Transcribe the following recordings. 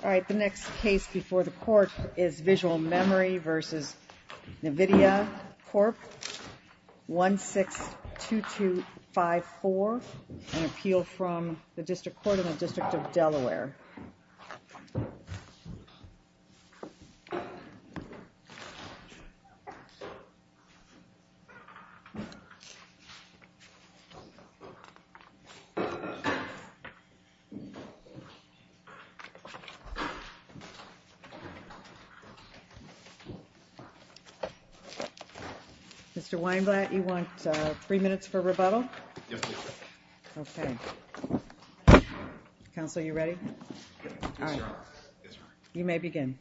All right, the next case before the court is Visual Memory v. NVIDIA Corp. 162254, an appeal from the District Court of the District of Delaware. Mr. Weinblatt, you want three minutes for rebuttal? Yes, please. Okay. Counsel, you ready? Yes, sir. All right. Yes, ma'am. You may begin.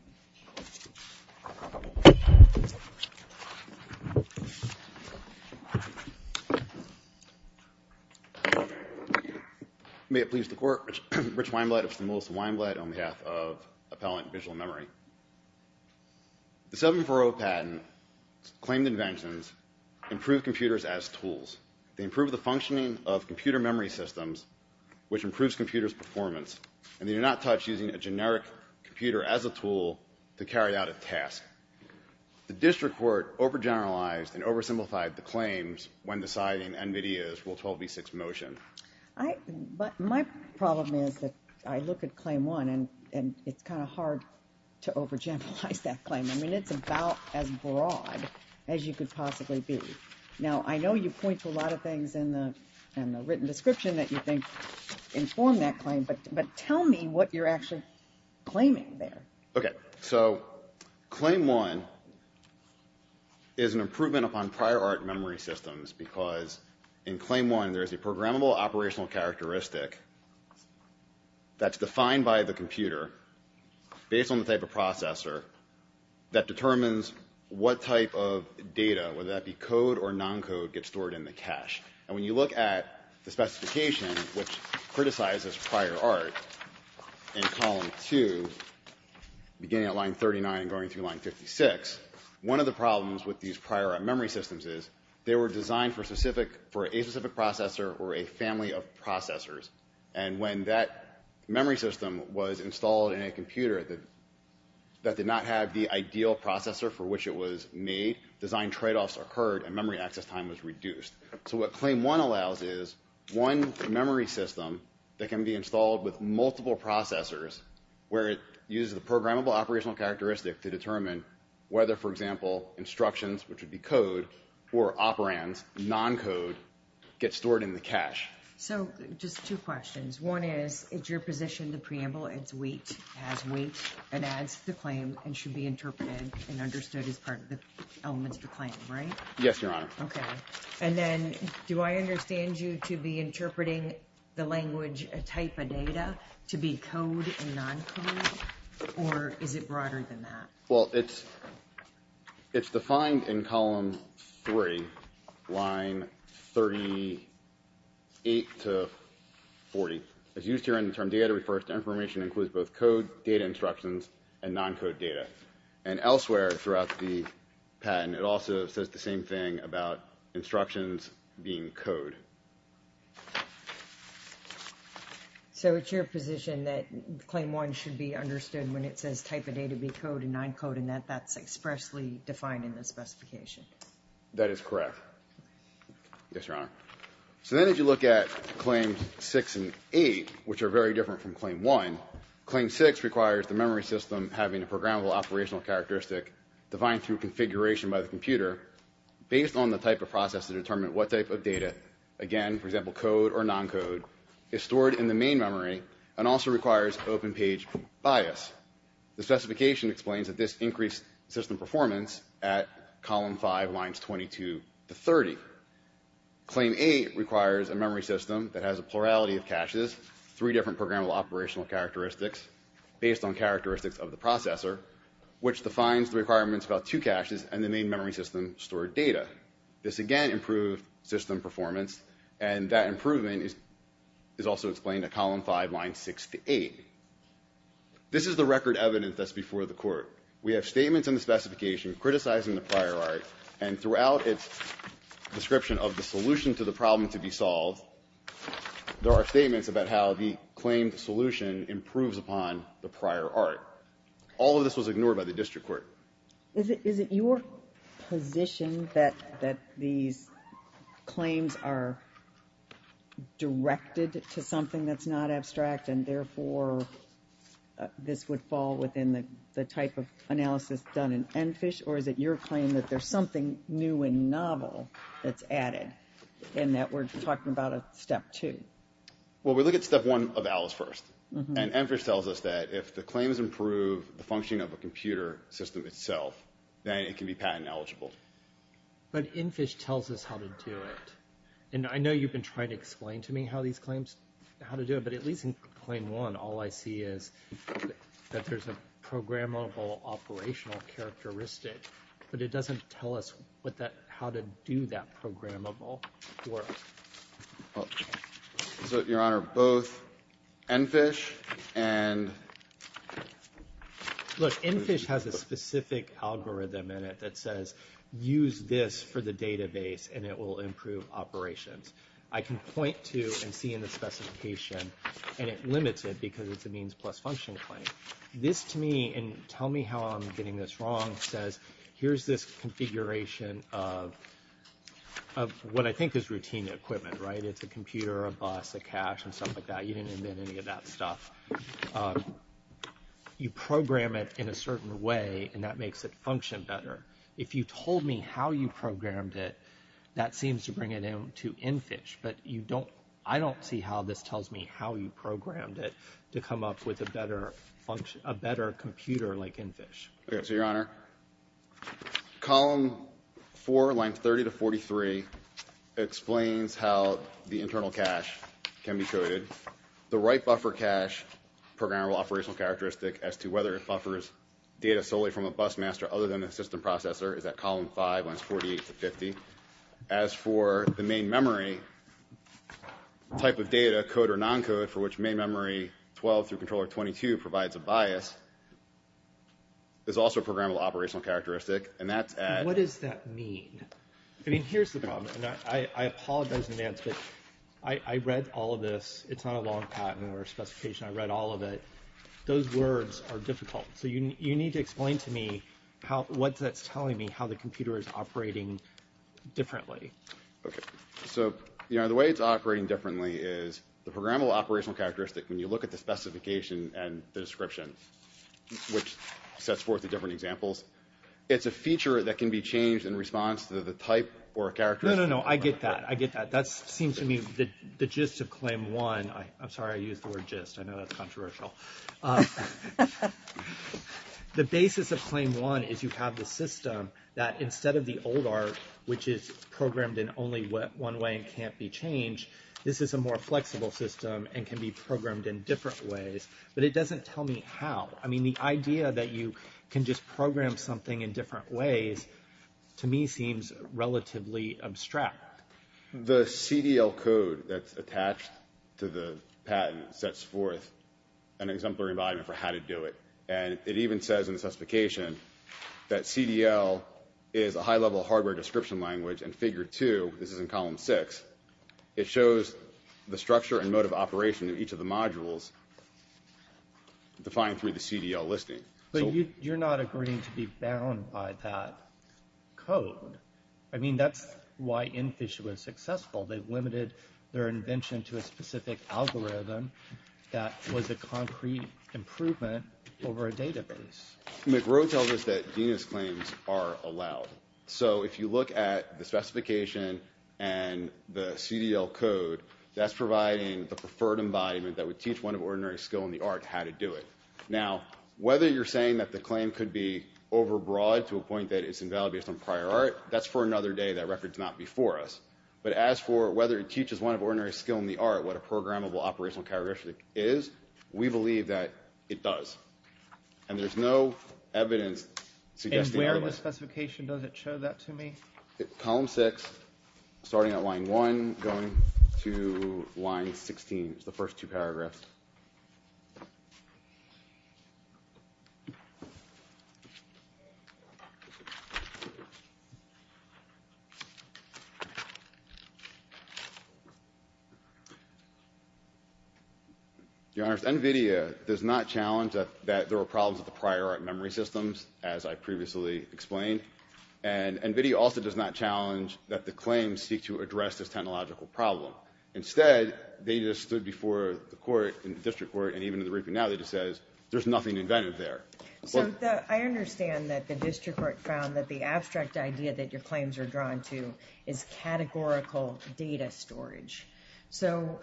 May it please the Court, Rich Weinblatt of St. Louis and Weinblatt on behalf of Appellant Visual Memory. The 740 patent claimed inventions improve computers as tools. They improve the functioning of computer memory systems, which improves computers' performance. And they do not touch using a generic computer as a tool to carry out a task. The District Court overgeneralized and oversimplified the claims when deciding NVIDIA's Rule 12b6 motion. My problem is that I look at Claim 1 and it's kind of hard to overgeneralize that claim. I mean, it's about as broad as you could possibly be. Now, I know you point to a lot of things in the written description that you think inform that claim, but tell me what you're actually claiming there. Okay. So Claim 1 is an improvement upon prior art memory systems because in Claim 1 there is a programmable operational characteristic that's defined by the computer based on the type of processor that determines what type of data, whether that be code or non-code, gets stored in the cache. And when you look at the specification, which criticizes prior art, in Column 2, beginning at line 39 and going through line 56, one of the problems with these prior art memory systems is they were designed for a specific processor or a family of processors. And when that memory system was installed in a computer that did not have the ideal processor for which it was made, design tradeoffs occurred and memory access time was reduced. So what Claim 1 allows is one memory system that can be installed with multiple processors where it uses the programmable operational characteristic to determine whether, for example, instructions, which would be code or operands, non-code, get stored in the cache. So just two questions. One is, is your position the preamble has weight and adds to the claim and should be interpreted and understood as part of the elements of the claim, right? Yes, Your Honor. Okay. And then do I understand you to be interpreting the language type of data to be code and non-code, or is it broader than that? Well, it's defined in Column 3, line 38 to 40. As used here in the term data, it refers to information that includes both code, data instructions, and non-code data. And elsewhere throughout the patent, it also says the same thing about instructions being code. So it's your position that Claim 1 should be understood when it says type of data to be code and non-code and that that's expressly defined in the specification? That is correct. Yes, Your Honor. So then as you look at Claims 6 and 8, which are very different from Claim 1, Claim 6 requires the memory system having a programmable operational characteristic defined through configuration by the computer based on the type of process to determine what type of data, again, for example, code or non-code, is stored in the main memory and also requires open page bias. The specification explains that this increased system performance at Column 5, lines 22 to 30. Claim 8 requires a memory system that has a plurality of caches, three different programmable operational characteristics based on characteristics of the processor, which defines the requirements about two caches and the main memory system stored data. This, again, improved system performance and that improvement is also explained at Column 5, lines 6 to 8. This is the record evidence that's before the court. We have statements in the specification criticizing the prior art and throughout its description of the solution to the problem to be solved, there are statements about how the claimed solution improves upon the prior art. All of this was ignored by the district court. Is it your position that these claims are directed to something that's not abstract and therefore this would fall within the type of analysis done in ENFISH or is it your claim that there's something new and novel that's added and that we're talking about a Step 2? Well, we look at Step 1 of ALICE first. And ENFISH tells us that if the claims improve the functioning of a computer system itself, then it can be patent eligible. But ENFISH tells us how to do it. And I know you've been trying to explain to me how these claims, how to do it, but at least in Claim 1, all I see is that there's a programmable operational characteristic, but it doesn't tell us how to do that programmable work. Your Honor, both ENFISH and… Look, ENFISH has a specific algorithm in it that says, use this for the database and it will improve operations. I can point to and see in the specification and it limits it because it's a means plus function claim. This to me, and tell me how I'm getting this wrong, says here's this configuration of what I think is routine equipment, right? It's a computer, a bus, a cache, and stuff like that. You didn't invent any of that stuff. You program it in a certain way and that makes it function better. If you told me how you programmed it, that seems to bring it in to ENFISH, but I don't see how this tells me how you programmed it to come up with a better computer like ENFISH. Okay, so, Your Honor, Column 4, Lines 30 to 43, explains how the internal cache can be coded. The right buffer cache programmable operational characteristic as to whether it buffers data solely from a bus master other than a system processor is at Column 5, Lines 48 to 50. As for the main memory type of data, code or non-code, for which main memory 12 through controller 22 provides a bias, is also a programmable operational characteristic. What does that mean? I mean, here's the problem. I apologize in advance, but I read all of this. It's not a long patent or a specification. I read all of it. Those words are difficult. So you need to explain to me what that's telling me, how the computer is operating differently. Okay. So, Your Honor, the way it's operating differently is the programmable operational characteristic, when you look at the specification and the description, which sets forth the different examples, it's a feature that can be changed in response to the type or characteristic. No, no, no. I get that. I get that. That seems to me the gist of Claim 1. I'm sorry I used the word gist. I know that's controversial. The basis of Claim 1 is you have the system that instead of the old art, which is programmed in only one way and can't be changed, this is a more flexible system and can be programmed in different ways. But it doesn't tell me how. I mean, the idea that you can just program something in different ways, to me, seems relatively abstract. The CDL code that's attached to the patent sets forth an exemplary environment for how to do it. And it even says in the specification that CDL is a high-level hardware description language and Figure 2, this is in Column 6, it shows the structure and mode of operation of each of the modules defined through the CDL listing. But you're not agreeing to be bound by that code. I mean, that's why InFISH was successful. They limited their invention to a specific algorithm that was a concrete improvement over a database. McGrow tells us that DENIS claims are allowed. So if you look at the specification and the CDL code, that's providing the preferred embodiment that would teach one of ordinary skill in the art how to do it. Now, whether you're saying that the claim could be overbroad to a point that it's invalid based on prior art, that's for another day. That record's not before us. But as for whether it teaches one of ordinary skill in the art what a programmable operational characteristic is, we believe that it does. And there's no evidence suggesting otherwise. And where in the specification does it show that to me? Column 6, starting at line 1, going to line 16, is the first two paragraphs. Your Honors, NVIDIA does not challenge that there were problems with the prior art memory systems, as I previously explained. And NVIDIA also does not challenge that the claims seek to address this technological problem. Instead, they just stood before the court and the district court, and even in the report now that it says there's nothing inventive there. So I understand that the district court found that the abstract idea that your claims are drawn to is categorical data storage. So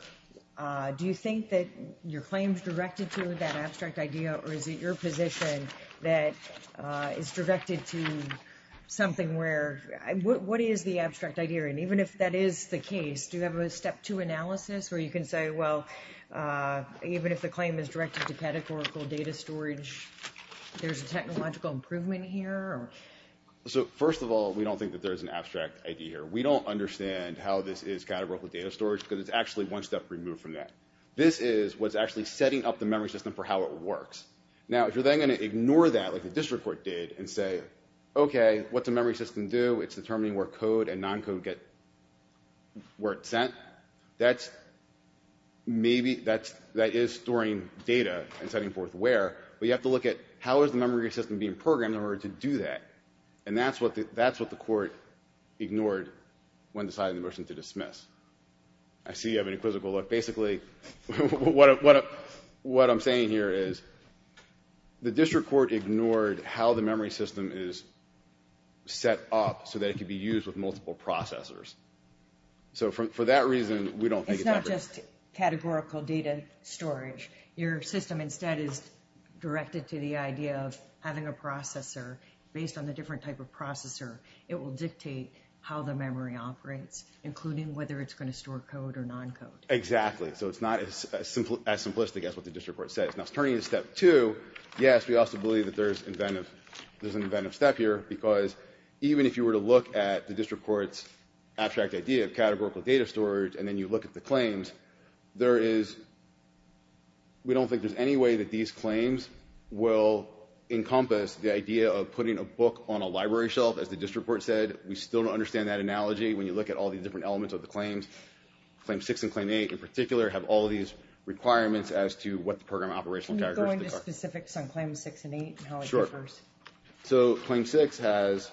do you think that your claims directed to that abstract idea, or is it your position that it's directed to something where – what is the abstract idea? And even if that is the case, do you have a step two analysis where you can say, well, even if the claim is directed to categorical data storage, there's a technological improvement here? So first of all, we don't think that there's an abstract idea here. We don't understand how this is categorical data storage because it's actually one step removed from that. This is what's actually setting up the memory system for how it works. Now, if you're then going to ignore that like the district court did and say, okay, what's a memory system do? It's determining where code and non-code get – where it's sent. That's – maybe that is storing data and setting forth where, but you have to look at how is the memory system being programmed in order to do that. And that's what the court ignored when deciding the motion to dismiss. I see you have an inquisitive look. Basically, what I'm saying here is the district court ignored how the multiple processors. So for that reason, we don't think it's ever – It's not just categorical data storage. Your system instead is directed to the idea of having a processor. Based on the different type of processor, it will dictate how the memory operates, including whether it's going to store code or non-code. Exactly. So it's not as simplistic as what the district court says. Now, turning to step two, yes, we also believe that there's an event of step here because even if you were to look at the district court's abstract idea of categorical data storage and then you look at the claims, there is – we don't think there's any way that these claims will encompass the idea of putting a book on a library shelf, as the district court said. We still don't understand that analogy when you look at all the different elements of the claims. Claim six and claim eight, in particular, have all these requirements as to what the program operational characteristics are. Can you go into specifics on claims six and eight and how it differs? So claim six has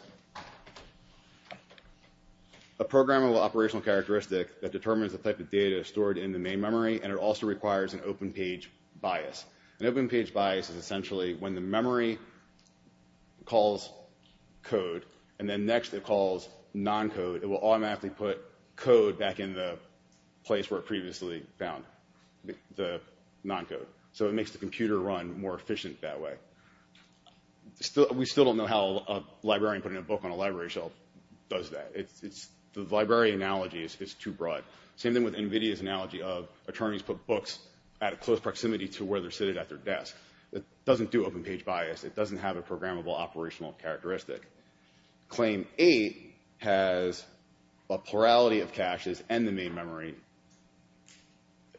a programmable operational characteristic that determines the type of data stored in the main memory, and it also requires an open page bias. An open page bias is essentially when the memory calls code and then next it calls non-code, it will automatically put code back in the place where it previously found the non-code. So it makes the computer run more efficient that way. We still don't know how a librarian putting a book on a library shelf does that. The library analogy is too broad. Same thing with NVIDIA's analogy of attorneys put books at a close proximity to where they're sitting at their desk. It doesn't do open page bias. It doesn't have a programmable operational characteristic. Claim eight has a plurality of caches and the main memory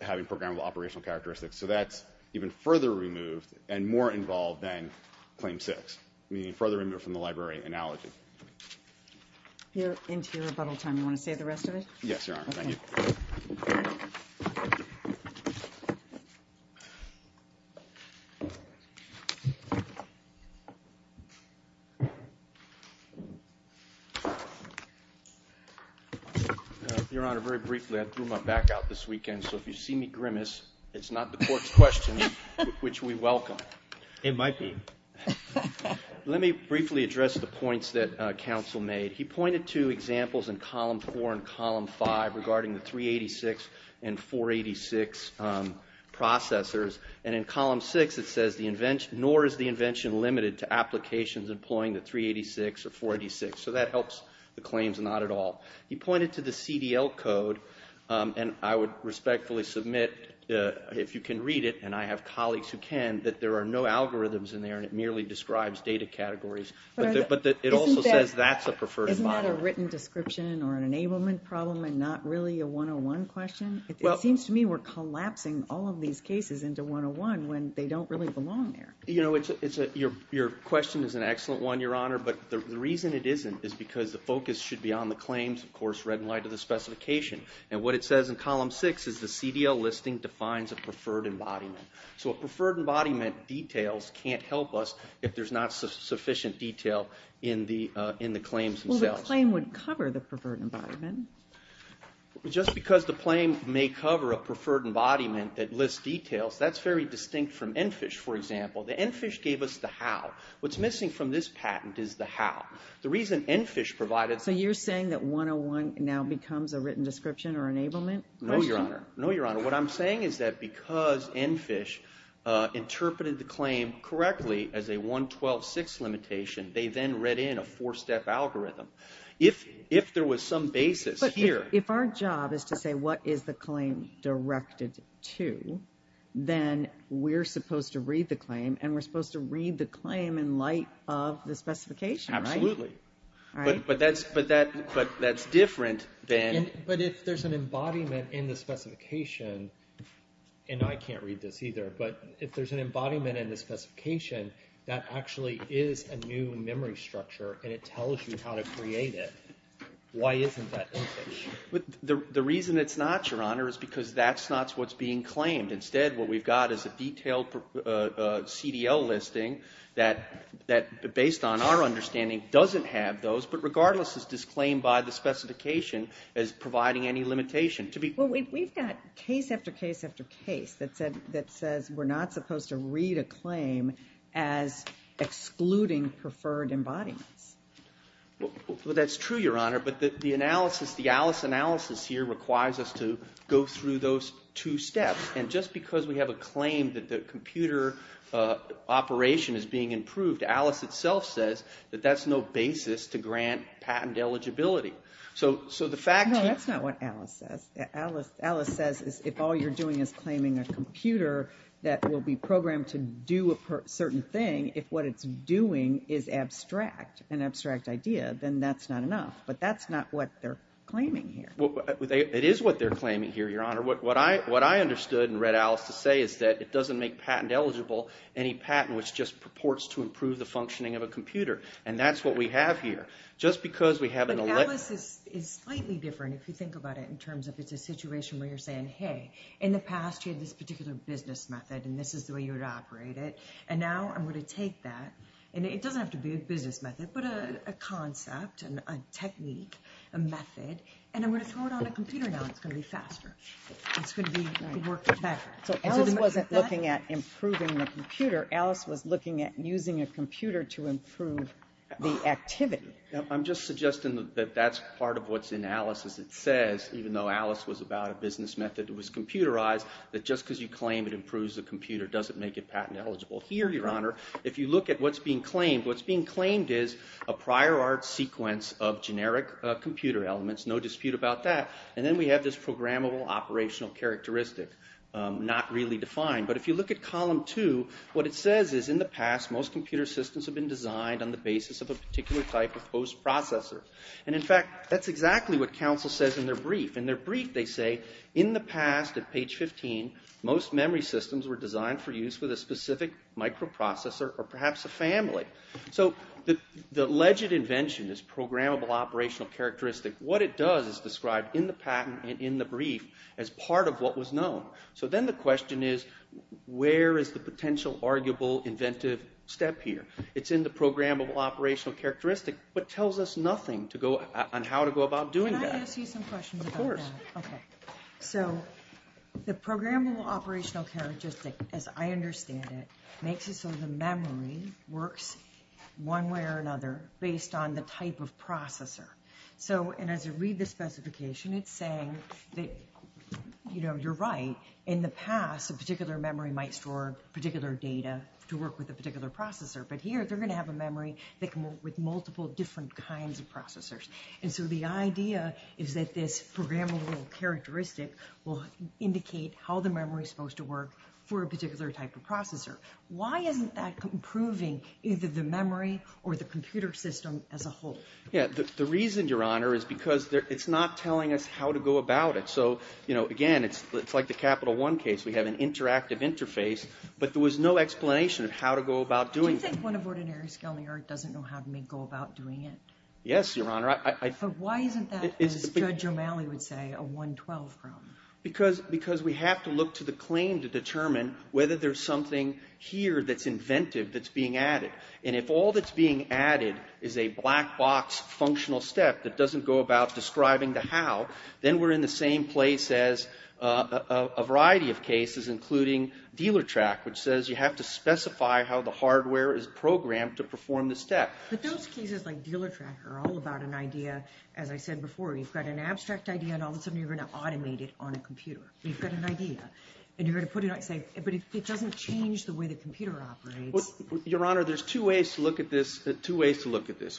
having programmable operational characteristics. So that's even further removed and more involved than claim six, meaning further removed from the library analogy. You're into your rebuttal time. You want to say the rest of it? Yes, Your Honor. Thank you. Your Honor, very briefly, I threw my back out this weekend, so if you see me grimace, it's not the court's question, which we welcome. It might be. Let me briefly address the points that counsel made. He pointed to examples in column four and column five regarding the 386 and 486 processors, and in column six it says, nor is the invention limited to applications employing the 386 or 486. So that helps the claims not at all. He pointed to the CDL code, and I would respectfully submit if you can read it, and I have colleagues who can, that there are no algorithms in there and it merely describes data categories. But it also says that's a preferred environment. Isn't that a written description or an enablement problem and not really a 101 question? It seems to me we're collapsing all of these cases into 101 when they don't really belong there. You know, your question is an excellent one, Your Honor, but the reason it isn't is because the focus should be on the claims, of course, read in light of the specification. And what it says in column six is the CDL listing defines a preferred embodiment. So a preferred embodiment details can't help us if there's not sufficient detail in the claims themselves. Well, the claim would cover the preferred embodiment. Just because the claim may cover a preferred embodiment that lists details, that's very distinct from ENFISH, for example. The ENFISH gave us the how. What's missing from this patent is the how. The reason ENFISH provided... So you're saying that 101 now becomes a written description or enablement? No, Your Honor. No, Your Honor. What I'm saying is that because ENFISH interpreted the claim correctly as a 112.6 limitation, they then read in a four-step algorithm. If there was some basis here... But if our job is to say what is the claim directed to, then we're supposed to read the claim in light of the specification, right? Absolutely. But that's different than... But if there's an embodiment in the specification, and I can't read this either, but if there's an embodiment in the specification that actually is a new memory structure and it tells you how to create it, why isn't that ENFISH? The reason it's not, Your Honor, is because that's not what's being claimed. Instead, what we've got is a detailed CDL listing that, based on our understanding, doesn't have those, but regardless is disclaimed by the specification as providing any limitation. Well, we've got case after case after case that says we're not supposed to read a claim as excluding preferred embodiments. Well, that's true, Your Honor, but the analysis, the ALICE analysis here, requires us to go through those two steps and just because we have a claim that the computer operation is being improved, ALICE itself says that that's no basis to grant patent eligibility. So the fact... No, that's not what ALICE says. ALICE says if all you're doing is claiming a computer that will be programmed to do a certain thing, if what it's doing is abstract, an abstract idea, then that's not enough, but that's not what they're claiming here. It is what they're claiming here, Your Honor. What I understood and read ALICE to say is that it doesn't make patent eligible any patent which just purports to improve the functioning of a computer, and that's what we have here. Just because we have an... But ALICE is slightly different if you think about it in terms of it's a situation where you're saying, hey, in the past you had this particular business method and this is the way you would operate it, and now I'm going to take that, and it doesn't have to be a business method, but a concept, a technique, a method, and I'm going to throw it on a computer now and it's going to be faster. It's going to be... So ALICE wasn't looking at improving the computer. ALICE was looking at using a computer to improve the activity. I'm just suggesting that that's part of what's in ALICE as it says, even though ALICE was about a business method, it was computerized, that just because you claim it improves the computer doesn't make it patent eligible. Here, Your Honor, if you look at what's being claimed, what's being claimed is a prior art sequence of generic computer elements, no dispute about that, and then we have this programmable operational characteristic not really defined, but if you look at column 2, what it says is, in the past most computer systems have been designed on the basis of a particular type of host processor, and in fact, that's exactly what counsel says in their brief. In their brief they say, in the past, at page 15, most memory systems were designed for use with a specific microprocessor or perhaps a family. So the alleged invention is programmable operational characteristic. What it does is describe in the patent and in the brief as part of what was known. So then the question is, where is the potential arguable inventive step here? It's in the programmable operational characteristic, but tells us nothing on how to go about doing that. Can I ask you some questions about that? Of course. Okay. So the programmable operational characteristic, makes it so the memory works one way or another based on the type of processor. So, and as I read the specification, it's saying that, you know, you're right. In the past, a particular memory might store particular data to work with a particular processor, but here they're gonna have a memory that can work with multiple different kinds of processors. And so the idea is that this programmable characteristic will indicate how the memory is supposed to work for a particular type of processor. Why isn't that improving either the memory or the computer system as a whole? Yeah, the reason, Your Honor, is because it's not telling us how to go about it. So, you know, again, it's like the Capital One case. We have an interactive interface, but there was no explanation of how to go about doing it. Do you think one of ordinary skill in the art doesn't know how to make go about doing it? Yes, Your Honor. But why isn't that, as Judge O'Malley would say, a 112 problem? Because we have to look to the claim to determine whether there's something here that's inventive that's being added. And if all that's being added is a black box functional step that doesn't go about describing the how, then we're in the same place as a variety of cases, including Dealertrack, which says you have to specify how the hardware is programmed to perform the step. But those cases, like Dealertrack, are all about an idea, as I said before. You've got an abstract idea, and all of a sudden you're gonna automate it on a computer. You've got an idea, and you're gonna say, but it doesn't change the way the computer operates. Your Honor, there's two ways to look at this.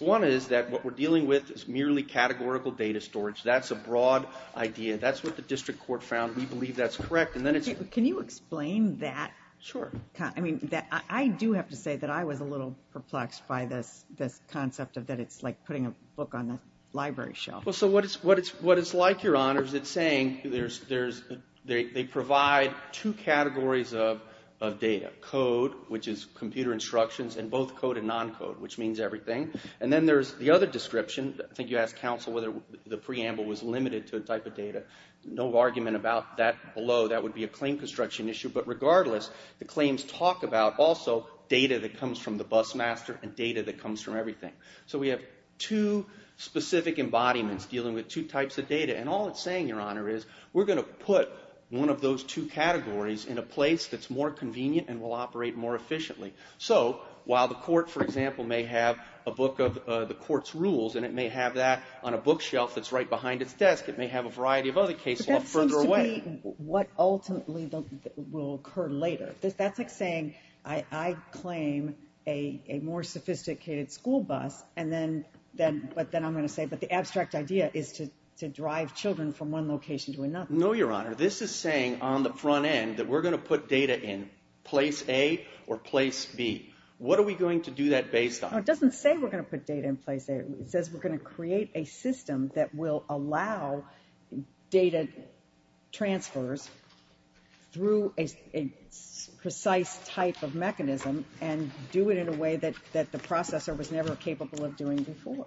One is that what we're dealing with is merely categorical data storage. That's a broad idea. That's what the district court found. We believe that's correct. Can you explain that? Sure. I do have to say that I was a little perplexed by this concept of that it's like putting a book on the library shelf. Well, so what it's like, Your Honor, is it's saying they provide two categories of data, code, which is computer instructions, and both code and non-code, which means everything. And then there's the other description. I think you asked counsel whether the preamble was limited to a type of data. No argument about that below. That would be a claim construction issue. But regardless, the claims talk about also data that comes from the bus master and data that comes from everything. So we have two specific embodiments dealing with two types of data. And all it's saying, Your Honor, is we're gonna put one of those two categories in a place that's more convenient and will operate more efficiently. So while the court, for example, may have a book of the court's rules and it may have that on a bookshelf that's right behind its desk, it may have a variety of other cases further away. But that seems to be what ultimately will occur later. That's like saying I claim a more sophisticated school bus, but then I'm gonna say, but the abstract idea is to drive children from one location to another. No, Your Honor. This is saying on the front end that we're gonna put data in place A or place B. What are we going to do that based on? No, it doesn't say we're gonna put data in place A. It says we're gonna create a system that will allow data transfers through a precise type of mechanism and do it in a way that the processor was never capable of doing before.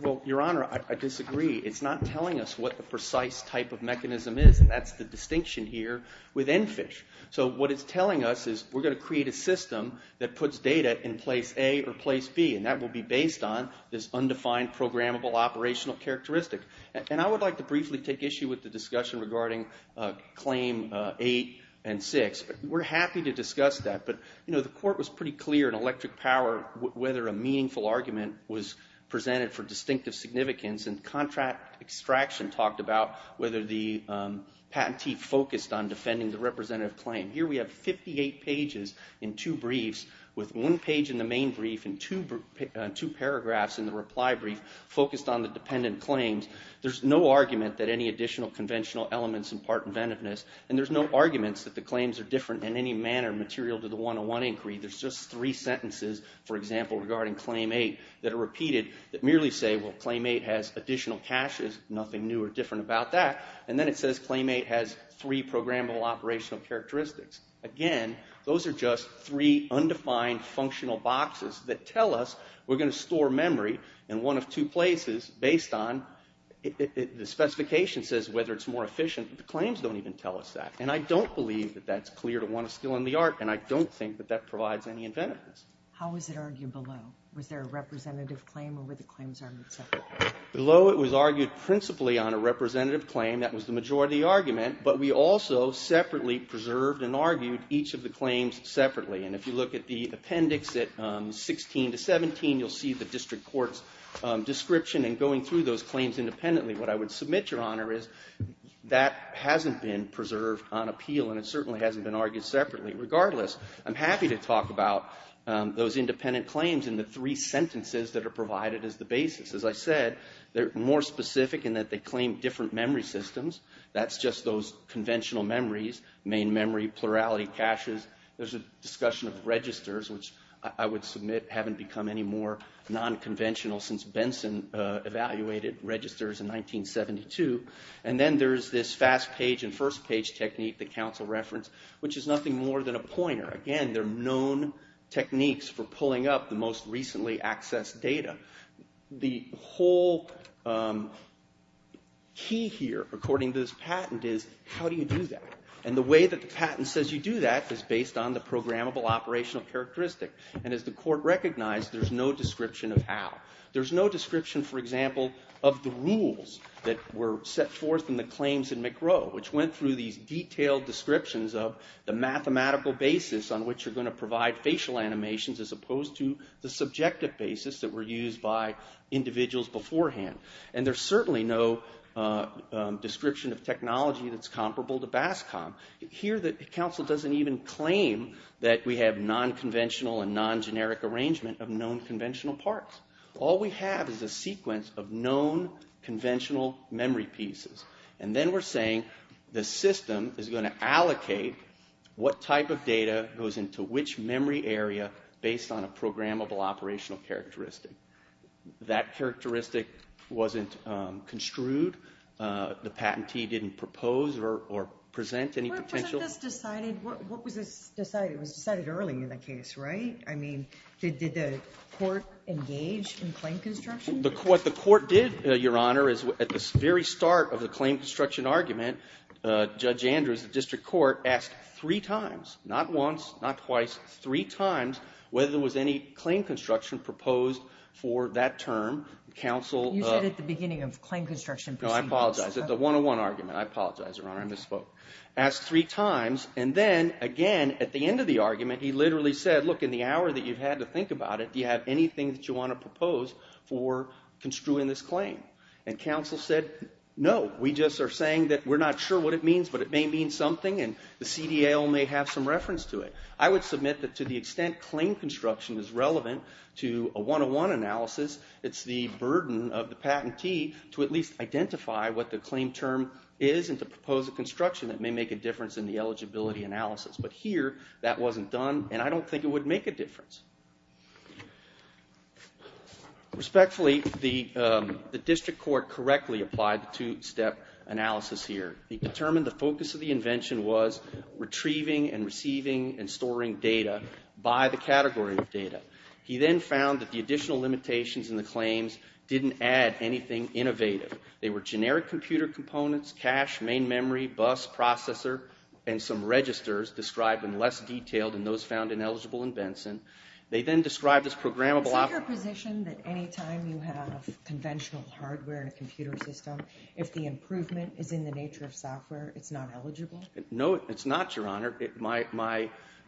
Well, Your Honor, I disagree. It's not telling us what the precise type of mechanism is. That's the distinction here with ENFISH. So what it's telling us is we're gonna create a system that puts data in place A or place B and that will be based on this undefined programmable operational characteristic. And I would like to briefly take issue with the discussion regarding Claim 8 and 6. We're happy to discuss that, but the court was pretty clear in Electric Power whether a meaningful argument was presented for distinctive significance and contract extraction talked about whether the patentee focused on defending the representative claim. Here we have 58 pages in two briefs with one page in the main brief and two paragraphs in the reply brief focused on the dependent claims. There's no argument that any additional conventional elements impart inventiveness and there's no arguments that the claims are different in any manner material to the 101 inquiry. There's just three sentences, for example, regarding Claim 8 that are repeated that merely say, well, Claim 8 has additional caches, nothing new or different about that. And then it says Claim 8 has three programmable operational characteristics. Again, those are just three undefined functional boxes that tell us we're going to store memory in one of two places based on the specification says whether it's more efficient. The claims don't even tell us that. And I don't believe that that's clear to one of skill and the art and I don't think that that provides any inventiveness. How was it argued below? Was there a representative claim or were the claims argued separately? Below, it was argued principally on a representative claim. That was the majority argument, but we also separately preserved and argued each of the claims separately. And if you look at the appendix at 16 to 17, you'll see the district court's description and going through those claims independently. What I would submit, Your Honor, is that hasn't been preserved on appeal and it certainly hasn't been argued separately. Regardless, I'm happy to talk about those independent claims in the three sentences that are provided as the basis. As I said, they're more specific in that they claim different memory systems. That's just those conventional memories, main memory, plurality, caches. There's a discussion of registers, which I would submit haven't become any more non-conventional since Benson evaluated registers in 1972. And then there's this fast page and first page technique that counsel referenced, which is nothing more than a pointer. Again, they're known techniques for pulling up the most recently accessed data. The whole key here, according to this patent, is how do you do that? And the way that the patent says you do that is based on the programmable operational characteristic. And as the court recognized, there's no description of how. There's no description, for example, of the rules that were set forth in the claims in McRow, which went through these detailed descriptions of the mathematical basis on which you're going to provide facial animations as opposed to the subjective basis that were used by individuals beforehand. And there's certainly no description of technology that's comparable to BASCOM. Here, the counsel doesn't even claim that we have non-conventional and non-generic arrangement of known conventional parts. All we have is a sequence of known conventional memory pieces. And then we're saying the system is going to allocate what type of data goes into which memory area based on a programmable operational characteristic. That characteristic wasn't construed. The patentee didn't propose or present any potential... But wasn't this decided... What was this decided? It was decided early in the case, right? I mean, did the court engage in claim construction? What the court did, Your Honor, is at the very start of the claim construction argument, Judge Andrews, the district court, asked three times, not once, not twice, three times whether there was any claim construction proposed for that term. Counsel... You said at the beginning of claim construction proceedings. No, I apologize. At the 101 argument. I apologize, Your Honor. I misspoke. Asked three times. And then, again, at the end of the argument, he literally said, look, in the hour that you've had to think about it, do you have anything that you want to propose for construing this claim? And counsel said, no. We just are saying that we're not sure what it means, but it may mean something, and the CDA may have some reference to it. I would submit that to the extent claim construction is relevant to a 101 analysis, it's the burden of the patentee to at least identify what the claim term is and to propose a construction that may make a difference in the eligibility analysis. But here, that wasn't done, and I don't think it would make a difference. Respectfully, the district court correctly applied the two-step analysis here. It determined the focus of the invention was retrieving and receiving and storing data by the category of data. He then found that the additional limitations in the claims didn't add anything innovative. They were generic computer components, cache, main memory, bus, processor, and some registers described in less detail than those found ineligible in Benson. They then described this programmable... Is it your position that any time you have conventional hardware in a computer system, if the improvement is in the nature of software, it's not eligible? No, it's not, Your Honor.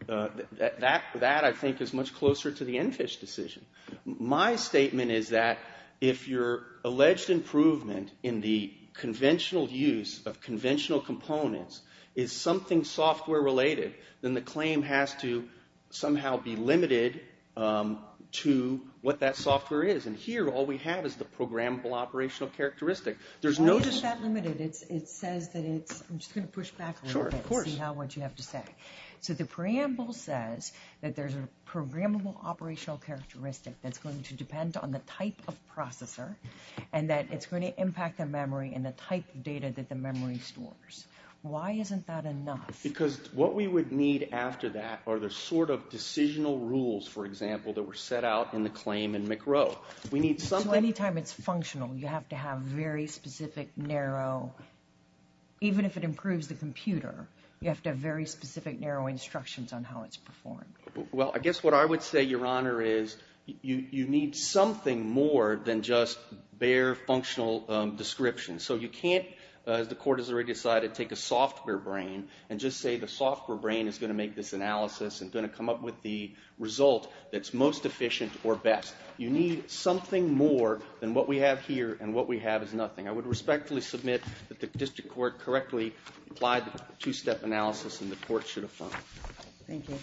That, I think, is much closer to the Enfish decision. My statement is that if your alleged improvement in the conventional use of conventional components is something software-related, then the claim has to somehow be limited to what that software is. And here, all we have is the programmable operational characteristic. Why is that limited? It says that it's... I'm just going to push back a little bit and see what you have to say. So the preamble says that there's a programmable operational characteristic that's going to depend on the type of processor and that it's going to impact the memory and the type of data that the memory stores. Why isn't that enough? Because what we would need after that are the sort of decisional rules, for example, that were set out in the claim in McRow. So any time it's functional, you have to have very specific, narrow... Even if it improves the computer, you have to have very specific, narrow instructions on how it's performed. Well, I guess what I would say, Your Honor, is you need something more than just bare functional descriptions. So you can't, as the court has already decided, take a software brain and just say the software brain is going to make this analysis and going to come up with the result that's most efficient or best. You need something more than what we have here and what we have is nothing. I would respectfully submit that the district court correctly applied the two-step analysis and the court should affirm it. Thank you.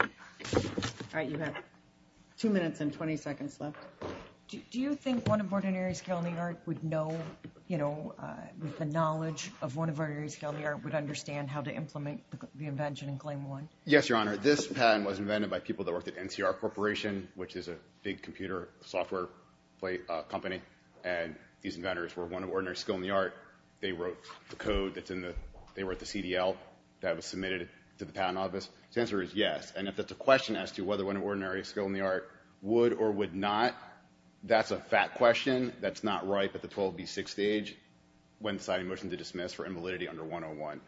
All right, you have 2 minutes and 20 seconds left. Do you think one of Ordinaries County Art would know, you know, with the knowledge of one of Ordinaries County Art, would understand how to implement the invention in Claim 1? Yes, Your Honor. This pattern was invented by people that worked at NCR Corporation, which is a big computer software company, and these inventors were one of Ordinaries Skill in the Art. They wrote the code that's in the... they wrote the CDL that was submitted to the patent office. The answer is yes, and if that's a question as to whether one of Ordinaries Skill in the Art would or would not, that's a fact question. That's not ripe at the 12B6 stage. When deciding a motion to dismiss for invalidity under 101.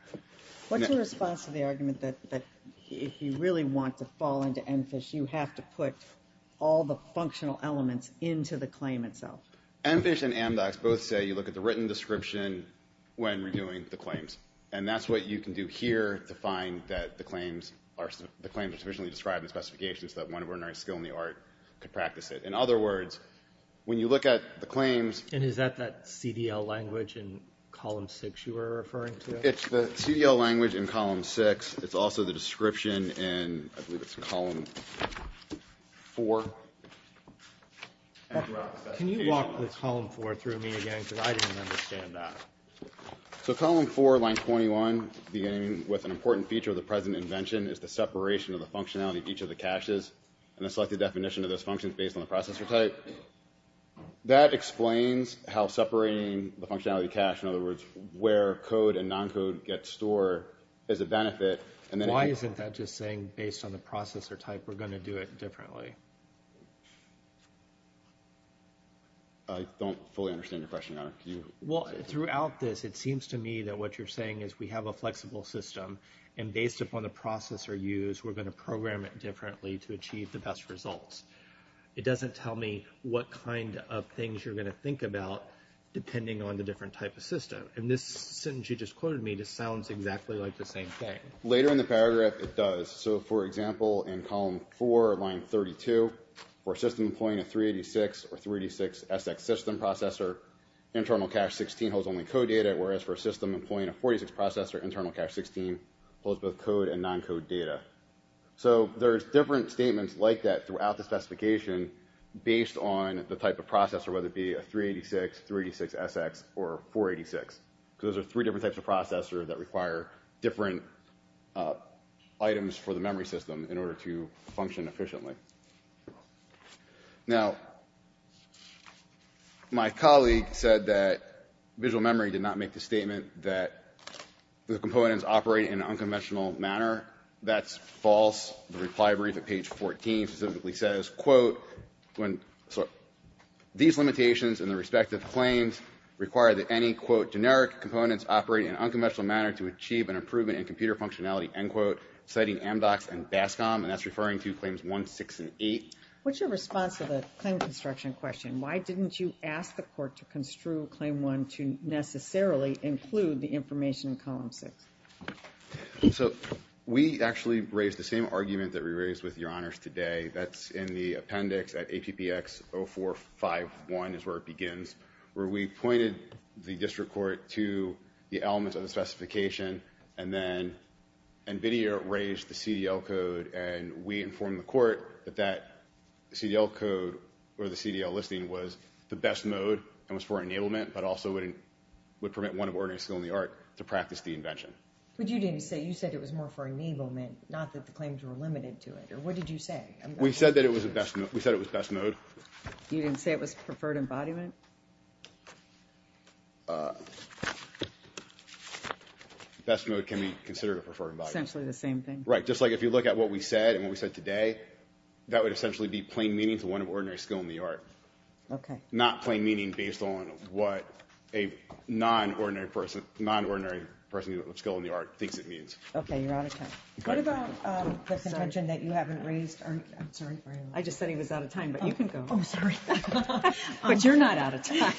What's your response to the argument that if you really want to fall into EnFish, you have to put all the functional elements into the claim itself? EnFish and AmDocs both say you look at the written description when we're doing the claims, and that's what you can do here to find that the claims are... the claims are sufficiently described in the specifications that one of Ordinaries Skill in the Art could practice it. In other words, when you look at the claims... And is that that CDL language in column 6 you were referring to? It's the CDL language in column 6. It's also the description in... I believe it's column 4. Can you walk the column 4 through me again? Because I didn't understand that. So column 4, line 21, beginning with an important feature of the present invention is the separation of the functionality of each of the caches, and the selected definition of those functions based on the processor type. That explains how separating the functionality cache, in other words, where code and non-code get stored, is a benefit, and then... Why isn't that just saying, based on the processor type, we're going to do it differently? I don't fully understand your question. Well, throughout this, it seems to me that what you're saying is we have a flexible system, and based upon the processor used, we're going to program it differently to achieve the best results. It doesn't tell me what kind of things you're going to think about depending on the different type of system. And this sentence you just quoted me, this sounds exactly like the same thing. Later in the paragraph, it does. So, for example, in column 4, line 32, for a system employing a 386 or 386SX system processor, internal cache 16 holds only code data, whereas for a system employing a 486 processor, internal cache 16 holds both code and non-code data. So there's different statements like that throughout the specification based on the type of processor, whether it be a 386, 386SX, or 486, because those are three different types of processors that require different items for the memory system in order to function efficiently. Now, my colleague said that visual memory did not make the statement that the components operate in an unconventional manner. That's false. The reply brief at page 14 specifically says, quote, when... These limitations in the respective claims require that any, quote, generic components operate in an unconventional manner to achieve an improvement in computer functionality, end quote, citing MDOCS and BASCOM, and that's referring to claims 1, 6, and 8. What's your response to the claim construction question? Why didn't you ask the court to construe claim 1 to necessarily include the information in column 6? So we actually raised the same argument that we raised with Your Honors today. That's in the appendix at APPX 0451 is where it begins, where we pointed the district court to the elements of the specification, and then NVIDIA raised the CDL code, and we informed the court that that CDL code or the CDL listing was the best mode and was for enablement, but also would permit one of ordinary skill in the art to practice the invention. But you didn't say... You said it was more for enablement, not that the claims were limited to it. What did you say? We said it was best mode. You didn't say it was preferred embodiment? Best mode can be considered a preferred embodiment. Essentially the same thing? Right, just like if you look at what we said and what we said today, that would essentially be plain meaning to one of ordinary skill in the art. Okay. Not plain meaning based on what a non-ordinary person, non-ordinary person of skill in the art thinks it means. Okay, you're out of time. What about the contention that you haven't raised? I'm sorry. I just said he was out of time, but you can go. Oh, sorry. But you're not out of time.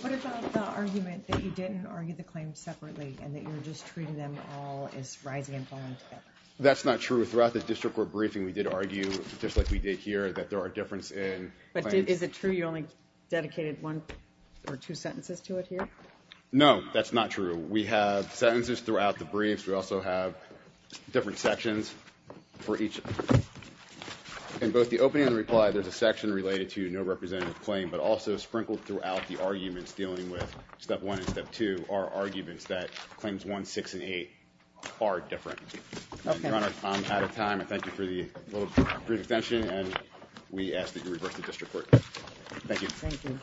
What about the argument that you didn't argue the claims separately and that you were just treating them all as rising and falling together? That's not true. Throughout the district court briefing, we did argue, just like we did here, that there are difference in claims. But is it true you only dedicated one or two sentences to it here? No, that's not true. We have sentences throughout the briefs. We also have different sections for each. In both the opening and reply, there's a section related to no representative claim, but also sprinkled throughout the arguments dealing with step one and step two are arguments that claims one, six, and eight are different. Okay. Your Honor, I'm out of time. I thank you for the little brief extension, and we ask that you reverse the district court. Thank you. Thank you.